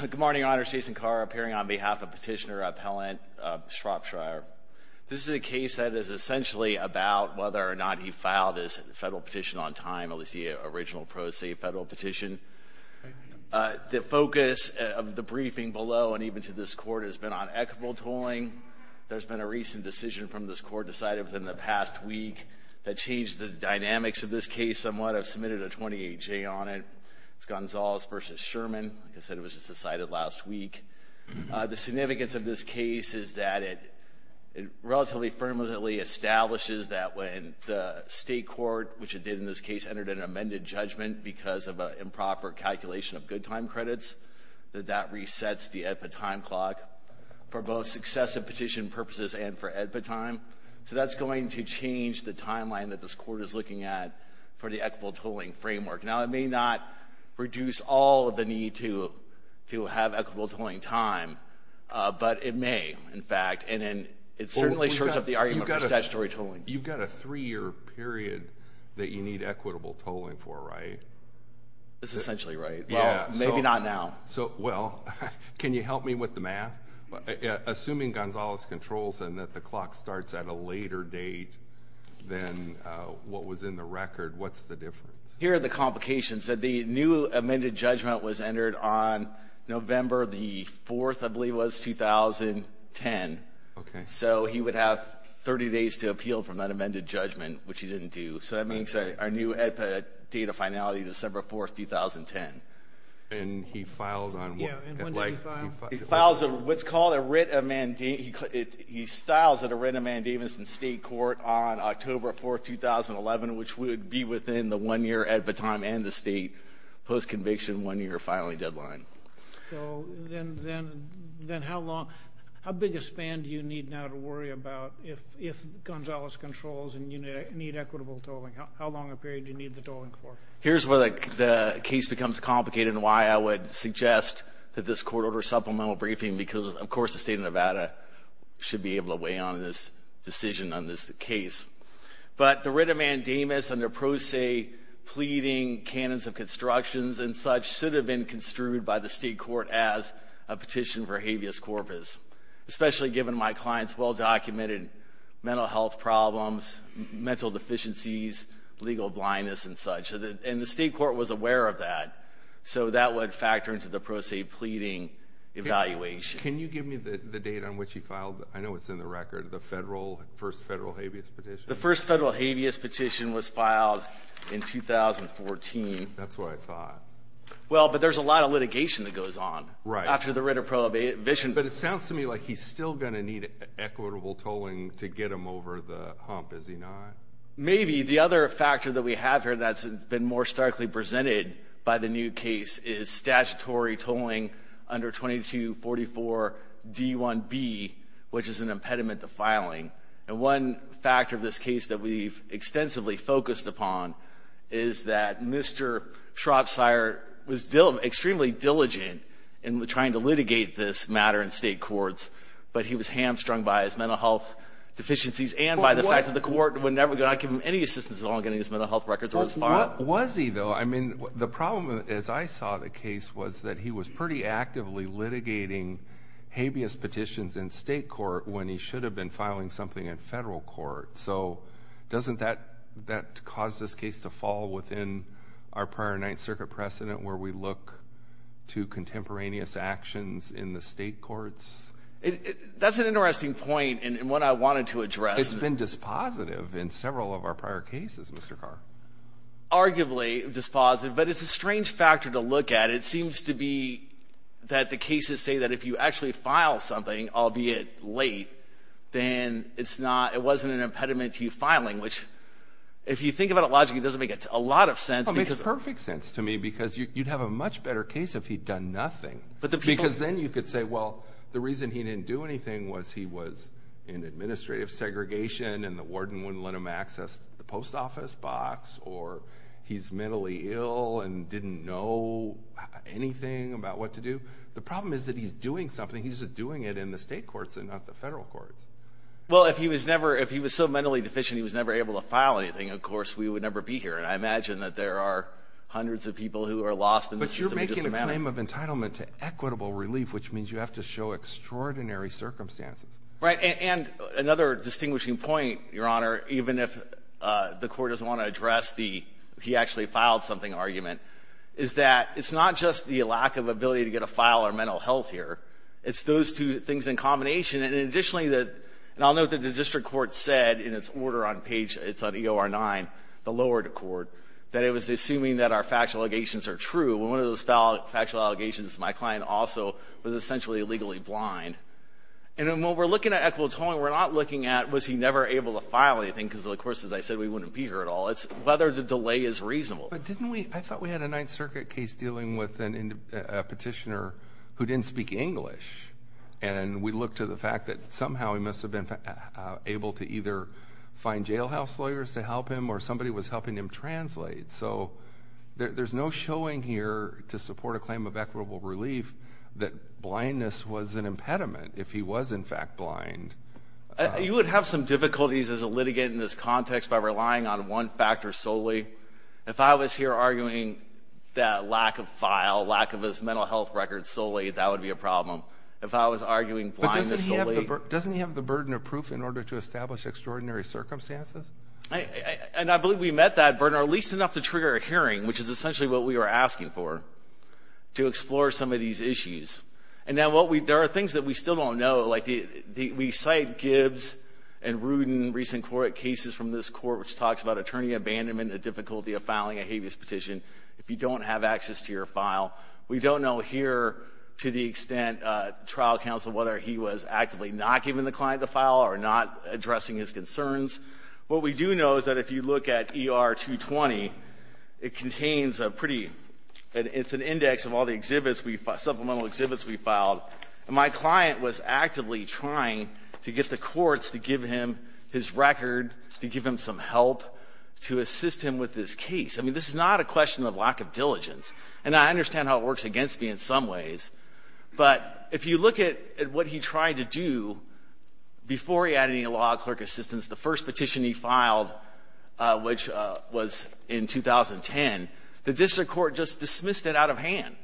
Good morning, Your Honor. Jason Carr appearing on behalf of Petitioner Appellant Shropshire. This is a case that is essentially about whether or not he filed his federal petition on time, at least the original pro se federal petition. The focus of the briefing below and even to this Court has been on equitable tolling. There's been a recent decision from this Court decided within the past week that changed the dynamics of this case somewhat. I've submitted a 28-J on it. It's Gonzalez v. Sherman. Like I said, it was just decided last week. The significance of this case is that it relatively firmly establishes that when the state court, which it did in this case, entered an amended judgment because of an improper calculation of good time credits, that that resets the AEDPA time clock for both successive petition purposes and for AEDPA time. So that's going to change the timeline that this Court is looking at for the equitable tolling framework. Now, it may not reduce all of the need to have equitable tolling time, but it may, in fact. And it certainly shorts up the argument for statutory tolling. You've got a three-year period that you need equitable tolling for, right? That's essentially right. Well, maybe not now. Well, can you help me with the math? Assuming Gonzalez controls and that the clock starts at a later date than what was in the record, what's the difference? Here are the complications. The new amended judgment was entered on November the 4th, I believe it was, 2010. Okay. So he would have 30 days to appeal from that amended judgment, which he didn't do. So that means our new AEDPA date of finality, December 4th, 2010. And he filed on what? Yeah, and when did he file? He files a what's called a writ of mandate. He styles a writ of mandate in the state court on October 4th, 2011, which would be within the one-year AEDPA time and the state post-conviction one-year filing deadline. So then how long? How big a span do you need now to worry about if Gonzalez controls and you need equitable tolling? How long a period do you need the tolling for? Here's where the case becomes complicated and why I would suggest that this court order supplemental briefing because, of course, the state of Nevada should be able to weigh on this decision on this case. But the writ of mandamus under Pro Se Pleading, Canons of Constructions, and such, should have been construed by the state court as a petition for habeas corpus, especially given my client's well-documented mental health problems, mental deficiencies, legal blindness, and such. And the state court was aware of that, so that would factor into the Pro Se Pleading evaluation. Can you give me the date on which he filed? I know it's in the record, the first federal habeas petition. The first federal habeas petition was filed in 2014. That's what I thought. Well, but there's a lot of litigation that goes on after the writ of prohibition. But it sounds to me like he's still going to need equitable tolling to get him over the hump, is he not? Maybe. The other factor that we have here that's been more starkly presented by the new case is statutory tolling under 2244 D1B, which is an impediment to filing. And one factor of this case that we've extensively focused upon is that Mr. Schrapsire was extremely diligent in trying to litigate this matter in state courts, but he was hamstrung by his mental health deficiencies and by the fact that the court would never give him any assistance in getting his mental health records or his file. What was he, though? I mean, the problem, as I saw the case, was that he was pretty actively litigating habeas petitions in state court when he should have been filing something in federal court. So doesn't that cause this case to fall within our prior Ninth Circuit precedent where we look to contemporaneous actions in the state courts? That's an interesting point and one I wanted to address. It's been dispositive in several of our prior cases, Mr. Carr. Arguably dispositive, but it's a strange factor to look at. It seems to be that the cases say that if you actually file something, albeit late, then it wasn't an impediment to you filing, which, if you think about it logically, doesn't make a lot of sense. It makes perfect sense to me because you'd have a much better case if he'd done nothing. Because then you could say, well, the reason he didn't do anything was he was in administrative segregation and the warden wouldn't let him access the post office box, or he's mentally ill and didn't know anything about what to do. The problem is that he's doing something. He's doing it in the state courts and not the federal courts. Well, if he was so mentally deficient he was never able to file anything, of course we would never be here, and I imagine that there are hundreds of people who are lost in this system. But you're making a claim of entitlement to equitable relief, which means you have to show extraordinary circumstances. Right. And another distinguishing point, Your Honor, even if the Court doesn't want to address the he actually filed something argument, is that it's not just the lack of ability to get a file or mental health here. It's those two things in combination. And additionally, the – and I'll note that the district court said in its order on page – it's on EOR 9, the lower court, that it was assuming that our factual allegations are true. And one of those factual allegations is my client also was essentially illegally blind. And when we're looking at equitable tolling, we're not looking at was he never able to file anything, because, of course, as I said, we wouldn't be here at all. It's whether the delay is reasonable. But didn't we – I thought we had a Ninth Circuit case dealing with a petitioner who didn't speak English, and we looked to the fact that somehow he must have been able to either find jailhouse lawyers to help him or somebody was helping him translate. So there's no showing here to support a claim of equitable relief that blindness was an impediment if he was, in fact, blind. You would have some difficulties as a litigant in this context by relying on one factor solely. If I was here arguing that lack of file, lack of his mental health records solely, that would be a problem. If I was arguing blindness solely – But doesn't he have the burden of proof in order to establish extraordinary circumstances? And I believe we met that burden, or at least enough to trigger a hearing, which is essentially what we were asking for, to explore some of these issues. And now what we – there are things that we still don't know. Like, we cite Gibbs and Rudin recent cases from this Court which talks about attorney abandonment, the difficulty of filing a habeas petition if you don't have access to your file. We don't know here, to the extent, trial counsel, whether he was actively not giving the client a file or not addressing his concerns. What we do know is that if you look at ER-220, it contains a pretty – it's an index of all the exhibits we – supplemental exhibits we filed. And my client was actively trying to get the courts to give him his record, to give him some help, to assist him with this case. I mean, this is not a question of lack of diligence. And I understand how it works against me in some ways. But if you look at what he tried to do before he added any law clerk assistance, the first petition he filed, which was in 2010, the district court just dismissed it out of hand.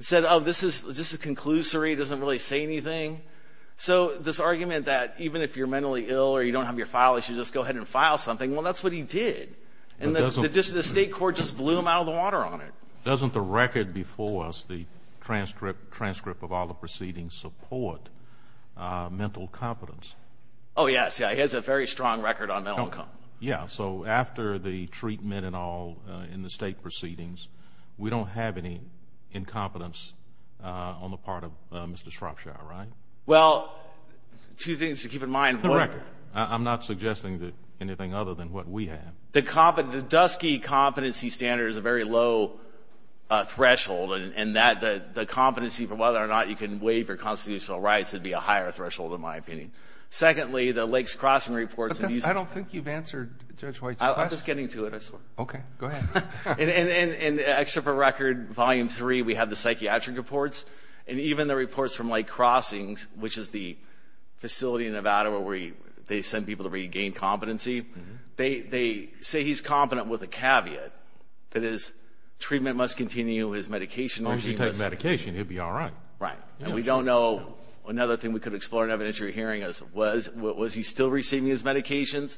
It said, oh, this is just a conclusory. It doesn't really say anything. So this argument that even if you're mentally ill or you don't have your file, you should just go ahead and file something, well, that's what he did. And the state court just blew him out of the water on it. Doesn't the record before us, the transcript of all the proceedings, support mental competence? Oh, yes. It has a very strong record on mental competence. Yeah. So after the treatment and all in the state proceedings, we don't have any incompetence on the part of Mr. Shropshire, right? Well, two things to keep in mind. The record. I'm not suggesting anything other than what we have. The dusky competency standard is a very low threshold, and that the competency for whether or not you can waive your constitutional rights would be a higher threshold, in my opinion. Secondly, the Lakes Crossing reports. I don't think you've answered Judge White's question. I'm just getting to it, I swear. Okay. Go ahead. And extra for record, Volume 3, we have the psychiatric reports, and even the reports from Lake Crossing, which is the facility in Nevada where they send people to regain competency, they say he's competent with a caveat, that is, treatment must continue, his medication regime is. As long as you take medication, he'll be all right. Right. And we don't know. Another thing we could explore in evidentiary hearing is was he still receiving his medications?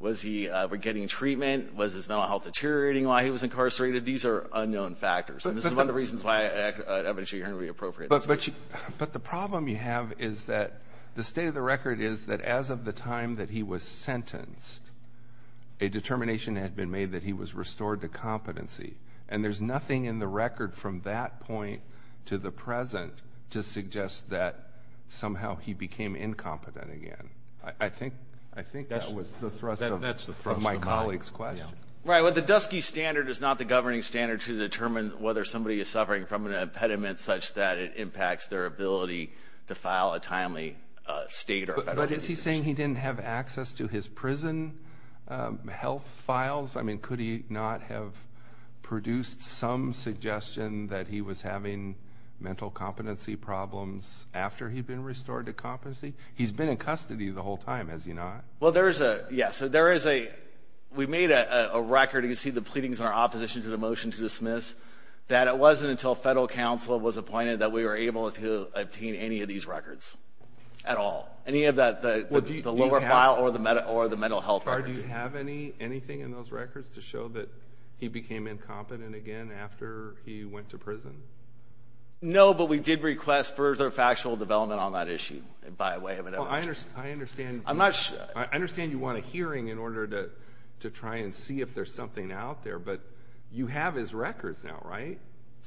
Was he getting treatment? Was his mental health deteriorating while he was incarcerated? These are unknown factors. And this is one of the reasons why an evidentiary hearing would be appropriate. But the problem you have is that the state of the record is that as of the time that he was sentenced, a determination had been made that he was restored to competency. And there's nothing in the record from that point to the present to suggest that somehow he became incompetent again. I think that was the thrust of my colleague's question. Right. Well, the DUSCIE standard is not the governing standard to determine whether somebody is suffering from an impediment such that it impacts their ability to file a timely state or federal registration. But is he saying he didn't have access to his prison health files? I mean, could he not have produced some suggestion that he was having mental competency problems after he'd been restored to competency? He's been in custody the whole time, has he not? Well, there is a yes. There is a we made a record. You can see the pleadings in our opposition to the motion to dismiss that it wasn't until federal counsel was appointed that we were able to obtain any of these records at all, any of the lower file or the mental health records. Do you have anything in those records to show that he became incompetent again after he went to prison? No, but we did request further factual development on that issue by way of an evidence. I understand you want a hearing in order to try and see if there's something out there. But you have his records now, right?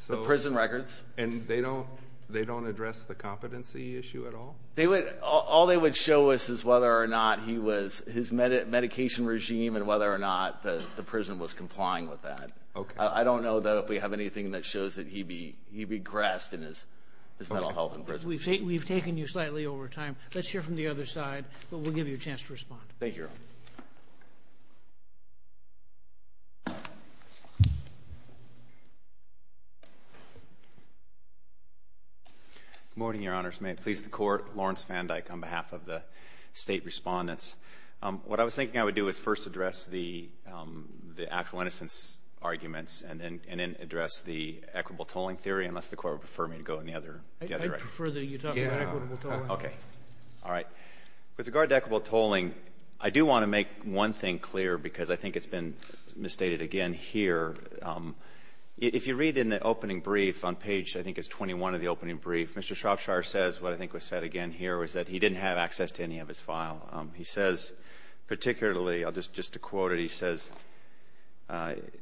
The prison records. And they don't address the competency issue at all? All they would show us is whether or not he was his medication regime and whether or not the prison was complying with that. Okay. I don't know, though, if we have anything that shows that he regressed in his mental health in prison. We've taken you slightly over time. Let's hear from the other side, but we'll give you a chance to respond. Thank you, Your Honor. Good morning, Your Honors. May it please the Court. Lawrence Van Dyck on behalf of the State Respondents. What I was thinking I would do is first address the actual innocence arguments and then address the equitable tolling theory, unless the Court would prefer me to go in the other direction. I prefer that you talk about equitable tolling. Okay. All right. With regard to equitable tolling, I do want to make one thing clear, because I think it's been misstated again here. If you read in the opening brief on page, I think it's 21 of the opening brief, Mr. Shropshire says what I think was said again here was that he didn't have access to any of his file. He says particularly, just to quote it, he says,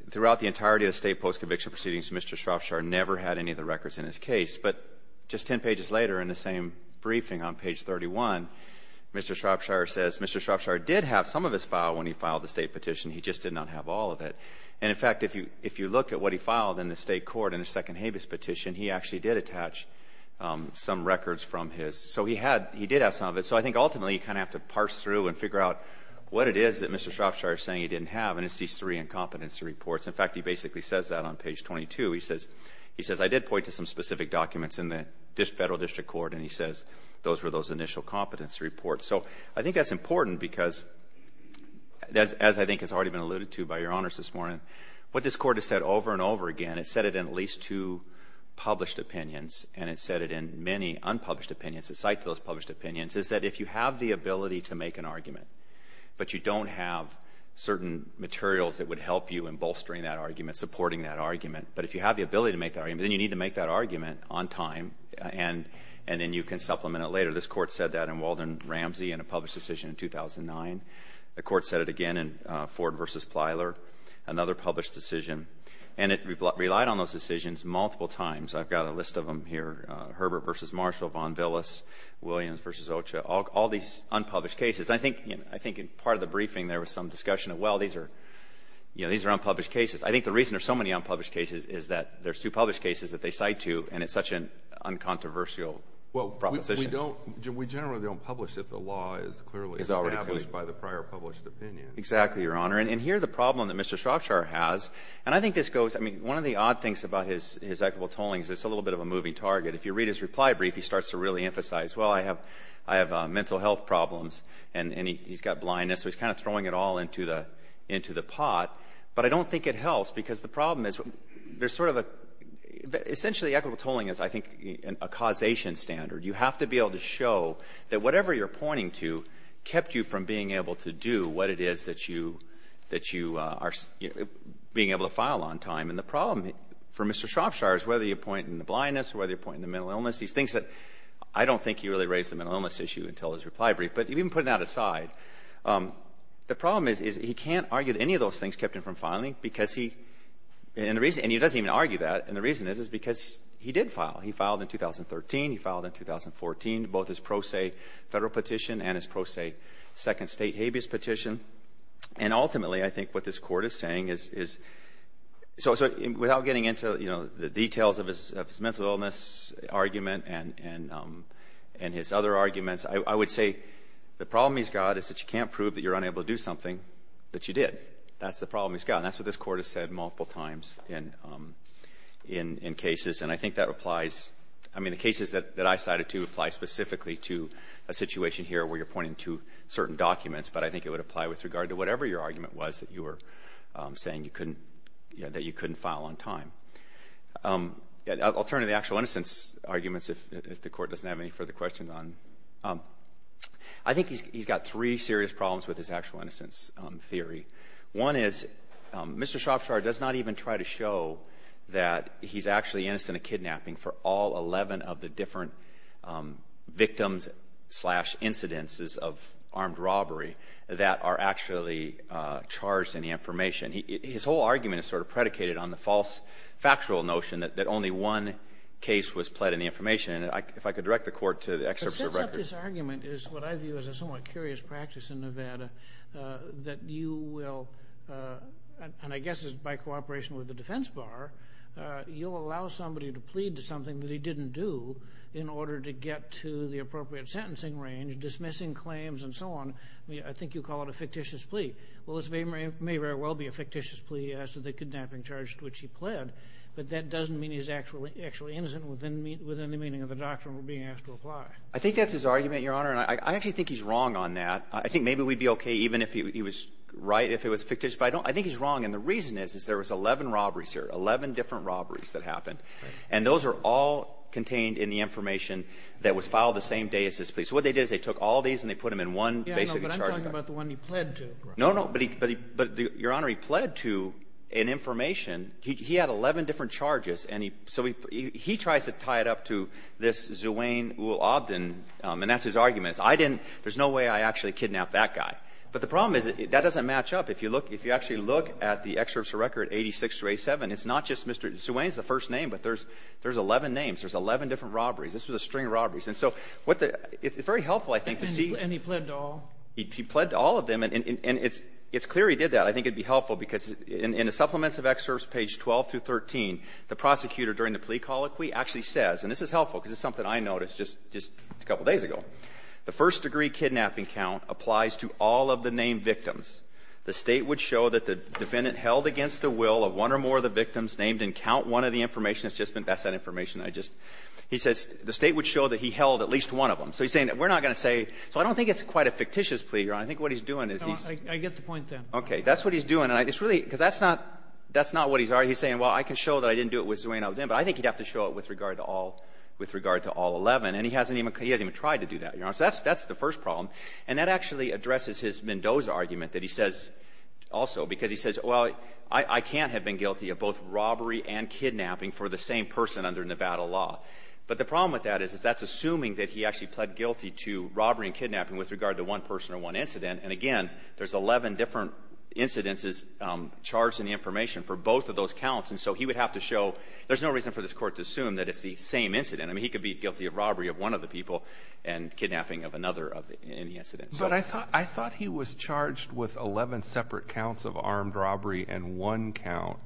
throughout the entirety of the State post-conviction proceedings, Mr. Shropshire never had any of the records in his case. But just 10 pages later in the same briefing on page 31, Mr. Shropshire says, Mr. Shropshire did have some of his file when he filed the State petition. He just did not have all of it. And, in fact, if you look at what he filed in the State court in the Second Habeas Petition, he actually did attach some records from his. So he did have some of it. So I think ultimately you kind of have to parse through and figure out what it is that Mr. Shropshire is saying he didn't have, and it's these three incompetency reports. In fact, he basically says that on page 22. He says, I did point to some specific documents in the Federal District Court, and he says those were those initial competency reports. So I think that's important because, as I think has already been alluded to by Your Honors this morning, what this Court has said over and over again, it's said it in at least two published opinions, and it's said it in many unpublished opinions, aside from those published opinions, is that if you have the ability to make an argument but you don't have certain materials that would help you in bolstering that argument, supporting that argument, but if you have the ability to make that argument, then you need to make that argument on time, and then you can supplement it later. This Court said that in Walden-Ramsey in a published decision in 2009. The Court said it again in Ford v. Plyler, another published decision. And it relied on those decisions multiple times. I've got a list of them here. Herbert v. Marshall, Von Villis, Williams v. Ocha, all these unpublished cases. I think part of the briefing there was some discussion of, well, these are unpublished cases. I think the reason there's so many unpublished cases is that there's two published cases that they cite to, and it's such an uncontroversial proposition. We generally don't publish if the law is clearly established by the prior published opinion. Exactly, Your Honor. And here the problem that Mr. Shropshire has, and I think this goes, I mean, one of the odd things about his equitable tolling is it's a little bit of a moving target. If you read his reply brief, he starts to really emphasize, well, I have mental health problems, and he's got blindness, so he's kind of throwing it all into the pot. But I don't think it helps because the problem is there's sort of a, essentially equitable tolling is, I think, a causation standard. You have to be able to show that whatever you're pointing to kept you from being able to do what it is that you are being able to file on time. And the problem for Mr. Shropshire is whether you're pointing to blindness or whether you're pointing to mental illness, these things that I don't think he really raised the mental illness issue until his reply brief, but even putting that aside, the problem is he can't argue that any of those things kept him from filing because he, and he doesn't even argue that, and the reason is because he did file. He filed in 2013. He filed in 2014, both his pro se federal petition and his pro se second state habeas petition. And ultimately, I think what this court is saying is, so without getting into, you know, the details of his mental illness argument and his other arguments, I would say the problem he's got is that you can't prove that you're unable to do something that you did. That's the problem he's got, and that's what this court has said multiple times in cases, and I think that applies, I mean, the cases that I cited to apply specifically to a situation here where you're pointing to certain documents, but I think it would apply with regard to whatever your argument was that you were saying you couldn't, you know, that you couldn't file on time. I'll turn to the actual innocence arguments, if the Court doesn't have any further questions on. I think he's got three serious problems with his actual innocence theory. One is Mr. Shroffshire does not even try to show that he's actually innocent of kidnapping for all 11 of the different victims slash incidences of armed robbery that are actually charged in the information. His whole argument is sort of predicated on the false factual notion that only one case was pled in the information, and if I could direct the Court to the excerpts of records. But since this argument is what I view as a somewhat curious practice in Nevada, that you will, and I guess it's by cooperation with the defense bar, you'll allow somebody to plead to something that he didn't do in order to get to the appropriate sentencing range, dismissing claims and so on. I mean, I think you call it a fictitious plea. Well, this may very well be a fictitious plea as to the kidnapping charge to which he pled, but that doesn't mean he's actually innocent within the meaning of the doctrine we're being asked to apply. I think that's his argument, Your Honor, and I actually think he's wrong on that. I think maybe we'd be okay even if he was right, if it was fictitious, but I think he's wrong, and the reason is is there was 11 robberies here, 11 different robberies that happened, and those are all contained in the information that was filed the same day as this plea. So what they did is they took all these and they put them in one basically charged act. I'm talking about the one he pled to. No, no, but he – but, Your Honor, he pled to an information. He had 11 different charges, and he – so he tries to tie it up to this Zewain ul-Abdin, and that's his argument, is I didn't – there's no way I actually kidnapped that guy. But the problem is that that doesn't match up. If you look – if you actually look at the excerpts of record 86 through 87, it's not just Mr. Zewain's the first name, but there's 11 names. There's 11 different robberies. This was a string of robberies. And so what the – it's very helpful, I think, to see – And he pled to all? He pled to all of them. And it's clear he did that. I think it would be helpful, because in the supplements of excerpts, page 12 through 13, the prosecutor during the plea colloquy actually says – and this is helpful because it's something I noticed just a couple days ago – the first degree kidnapping count applies to all of the named victims. The State would show that the defendant held against the will of one or more of the victims named and count one of the information that's just been – that's that information I just – he says the State would show that he held at least one of them. So he's saying that we're not going to say – so I don't think it's quite a fictitious plea, Your Honor. I think what he's doing is he's – I get the point, then. Okay. That's what he's doing. And it's really – because that's not – that's not what he's – he's saying, well, I can show that I didn't do it with Zewain, but I think he'd have to show it with regard to all – with regard to all 11. And he hasn't even – he hasn't even tried to do that, Your Honor. So that's the first problem. And that actually addresses his Mendoza argument that he says also, because he says, well, I can't have been guilty of both robbery and kidnapping for the same person under Nevada law. But the problem with that is that's assuming that he actually pled guilty to robbery and kidnapping with regard to one person or one incident. And again, there's 11 different incidences charged in the information for both of those counts. And so he would have to show – there's no reason for this Court to assume that it's the same incident. I mean, he could be guilty of robbery of one of the people and kidnapping of another of the – in the incident. But I thought – I thought he was charged with 11 separate counts of armed robbery and one count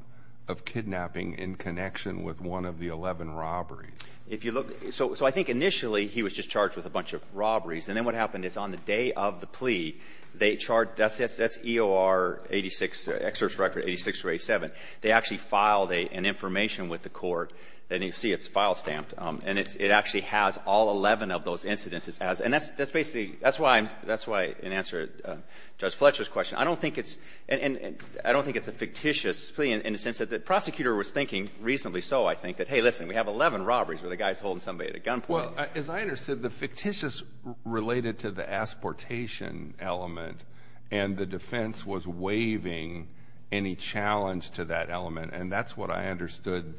of kidnapping in connection with one of the 11 robberies. If you look – so I think initially he was just charged with a bunch of robberies. And then what happened is on the day of the plea, they charged – that's EOR 86 – excerpt record 86 or 87. They actually filed an information with the court. And you see it's file stamped. And it actually has all 11 of those incidences as – and that's basically – that's why I'm – that's why in answer to Judge Fletcher's question, I don't think it's a fictitious plea in the sense that the prosecutor was thinking, reasonably so, I think, that, hey, listen, we have 11 robberies where the guy's holding somebody at a gunpoint. Well, as I understood, the fictitious related to the asportation element, and the defense was waiving any challenge to that element. And that's what I understood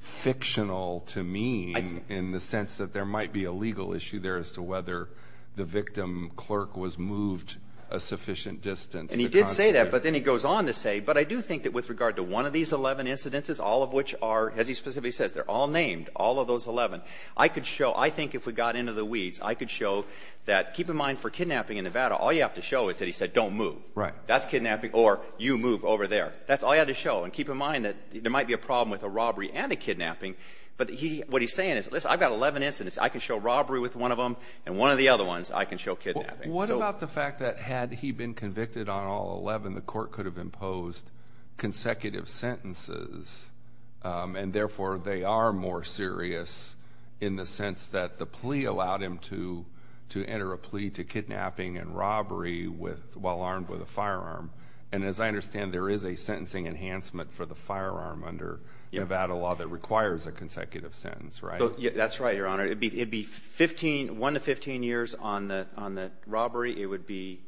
fictional to mean in the sense that there might be a legal issue there as to whether the victim clerk was moved a sufficient distance. And he did say that, but then he goes on to say, but I do think that with regard to one of these 11 incidences, all of which are – as he specifically says, they're all named, all of those 11. I could show – I think if we got into the weeds, I could show that – keep in mind for kidnapping in Nevada, all you have to show is that he said don't move. Right. That's kidnapping. Or you move over there. That's all you had to show. And keep in mind that there might be a problem with a robbery and a kidnapping, but he – what he's saying is, listen, I've got 11 incidents. I can show robbery with one of them, and one of the other ones I can show kidnapping. Well, what about the fact that had he been convicted on all 11, the court could have imposed consecutive sentences, and therefore they are more serious in the sense that the plea allowed him to enter a plea to kidnapping and robbery with – while armed with a firearm. And as I understand, there is a sentencing enhancement for the firearm under Nevada law that requires a consecutive sentence, right? That's right, Your Honor. It would be 15 – 1 to 15 years on the robbery. It would be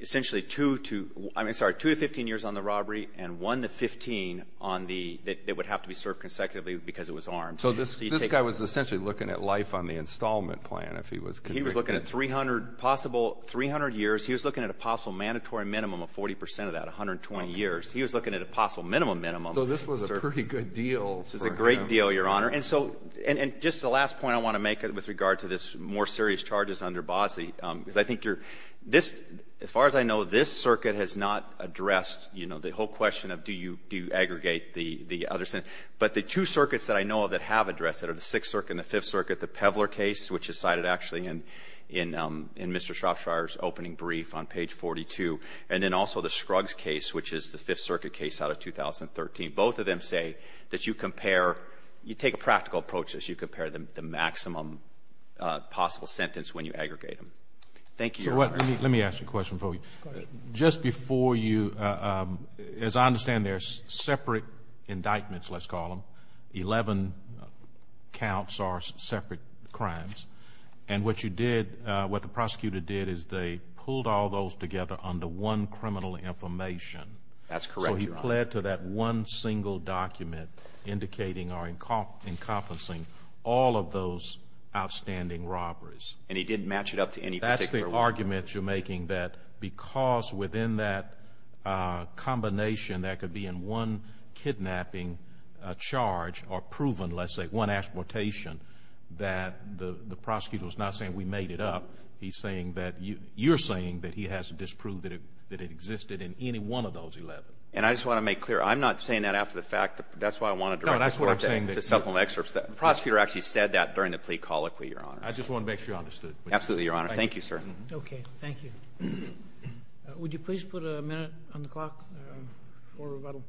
essentially 2 to – I'm sorry, 2 to 15 years on the robbery, and 1 to 15 on the – that would have to be served consecutively because it was armed. So this guy was essentially looking at life on the installment plan if he was convicted. He was looking at 300 possible – 300 years. He was looking at a possible mandatory minimum of 40 percent of that, 120 years. He was looking at a possible minimum minimum. So this was a pretty good deal for him. This was a great deal, Your Honor. And so – and just the last point I want to make with regard to this more serious charges under Bosley, because I think you're – this – as far as I know, this circuit has not addressed, you know, the whole question of do you aggregate the other sentence. But the two circuits that I know of that have addressed it are the Sixth Circuit and the Fifth Circuit, the Pevler case, which is cited actually in Mr. Shropshire's opening brief on page 42, and then also the Scruggs case, which is the Fifth Circuit case out of 2013. Both of them say that you compare – you take a practical approach as you compare the maximum possible sentence when you aggregate them. Thank you, Your Honor. So let me ask a question for you. Go ahead. Just before you – as I understand, they're separate indictments, let's call them. Eleven counts are separate crimes. And what you did – what the prosecutor did is they pulled all those together under one criminal information. That's correct, Your Honor. So he pled to that one single document indicating or encompassing all of those outstanding robberies. And he didn't match it up to any particular one. That's the argument you're making, that because within that combination there could be in one kidnapping charge or proven, let's say, one exportation, that the prosecutor was not saying we made it up. He's saying that – you're saying that he has disproved that it existed in any one of those 11. And I just want to make clear, I'm not saying that after the fact. That's why I want to direct the court to supplement excerpts. No, that's what I'm saying. The prosecutor actually said that during the plea colloquy, Your Honor. I just want to make sure you understood. Absolutely, Your Honor. Thank you, sir. Okay. Thank you. Would you please put a minute on the clock for rebuttal?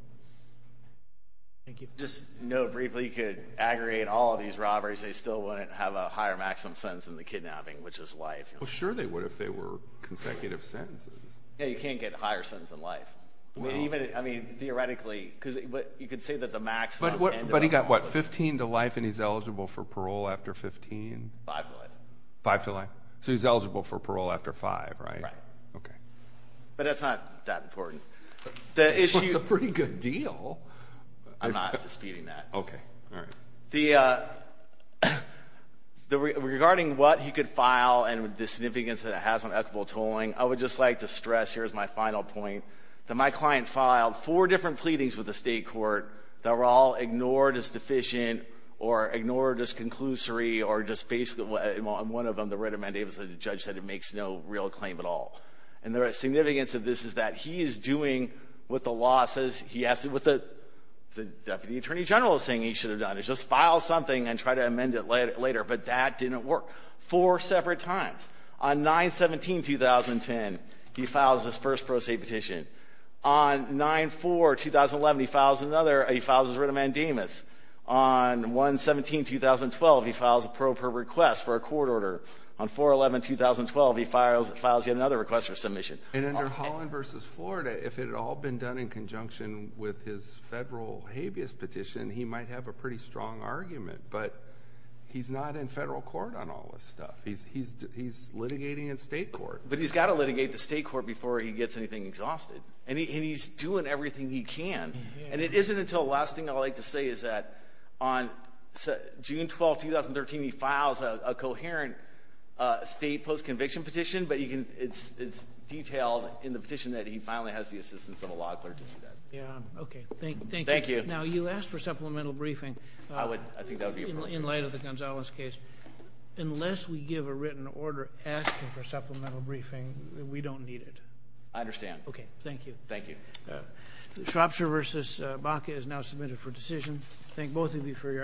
Thank you. Just to note briefly, you could aggregate all of these robberies. They still wouldn't have a higher maximum sentence in the kidnapping, which is life. Well, sure they would if they were consecutive sentences. Yeah, you can't get higher sentences in life. I mean, theoretically. You could say that the maximum – But he got, what, 15 to life and he's eligible for parole after 15? Five to life. Five to life. So he's eligible for parole after five, right? Right. Okay. But that's not that important. Well, it's a pretty good deal. I'm not disputing that. Okay. All right. Regarding what he could file and the significance that it has on equitable tolling, I would just like to stress, here's my final point, that my client filed four different pleadings with the State court that were all ignored as deficient or ignored as conclusory or just basically – and one of them, the right of mandate, was that the judge said it makes no real claim at all. And the significance of this is that he is doing what the law says he has to – what the deputy attorney general is saying he should have done is just file something and try to amend it later. But that didn't work. Four separate times. On 9-17-2010, he files his first pro se petition. On 9-4-2011, he files another – he files his right of mandamus. On 1-17-2012, he files a pro per request for a court order. On 4-11-2012, he files yet another request for submission. And under Holland v. Florida, if it had all been done in conjunction with his federal habeas petition, he might have a pretty strong argument. But he's not in federal court on all this stuff. He's litigating in state court. But he's got to litigate the state court before he gets anything exhausted. And he's doing everything he can. And it isn't until – last thing I'd like to say is that on June 12, 2013, he files a coherent state post-conviction petition, but you can – it's detailed in the petition that he finally has the assistance of a law clerk to do that. Yeah. Okay. Thank you. Thank you. Now, you asked for supplemental briefing. I think that would be appropriate. In light of the Gonzales case, unless we give a written order asking for supplemental briefing, we don't need it. I understand. Okay. Thank you. Thank you. Shropshire v. Baca is now submitted for decision. Thank both of you for your arguments.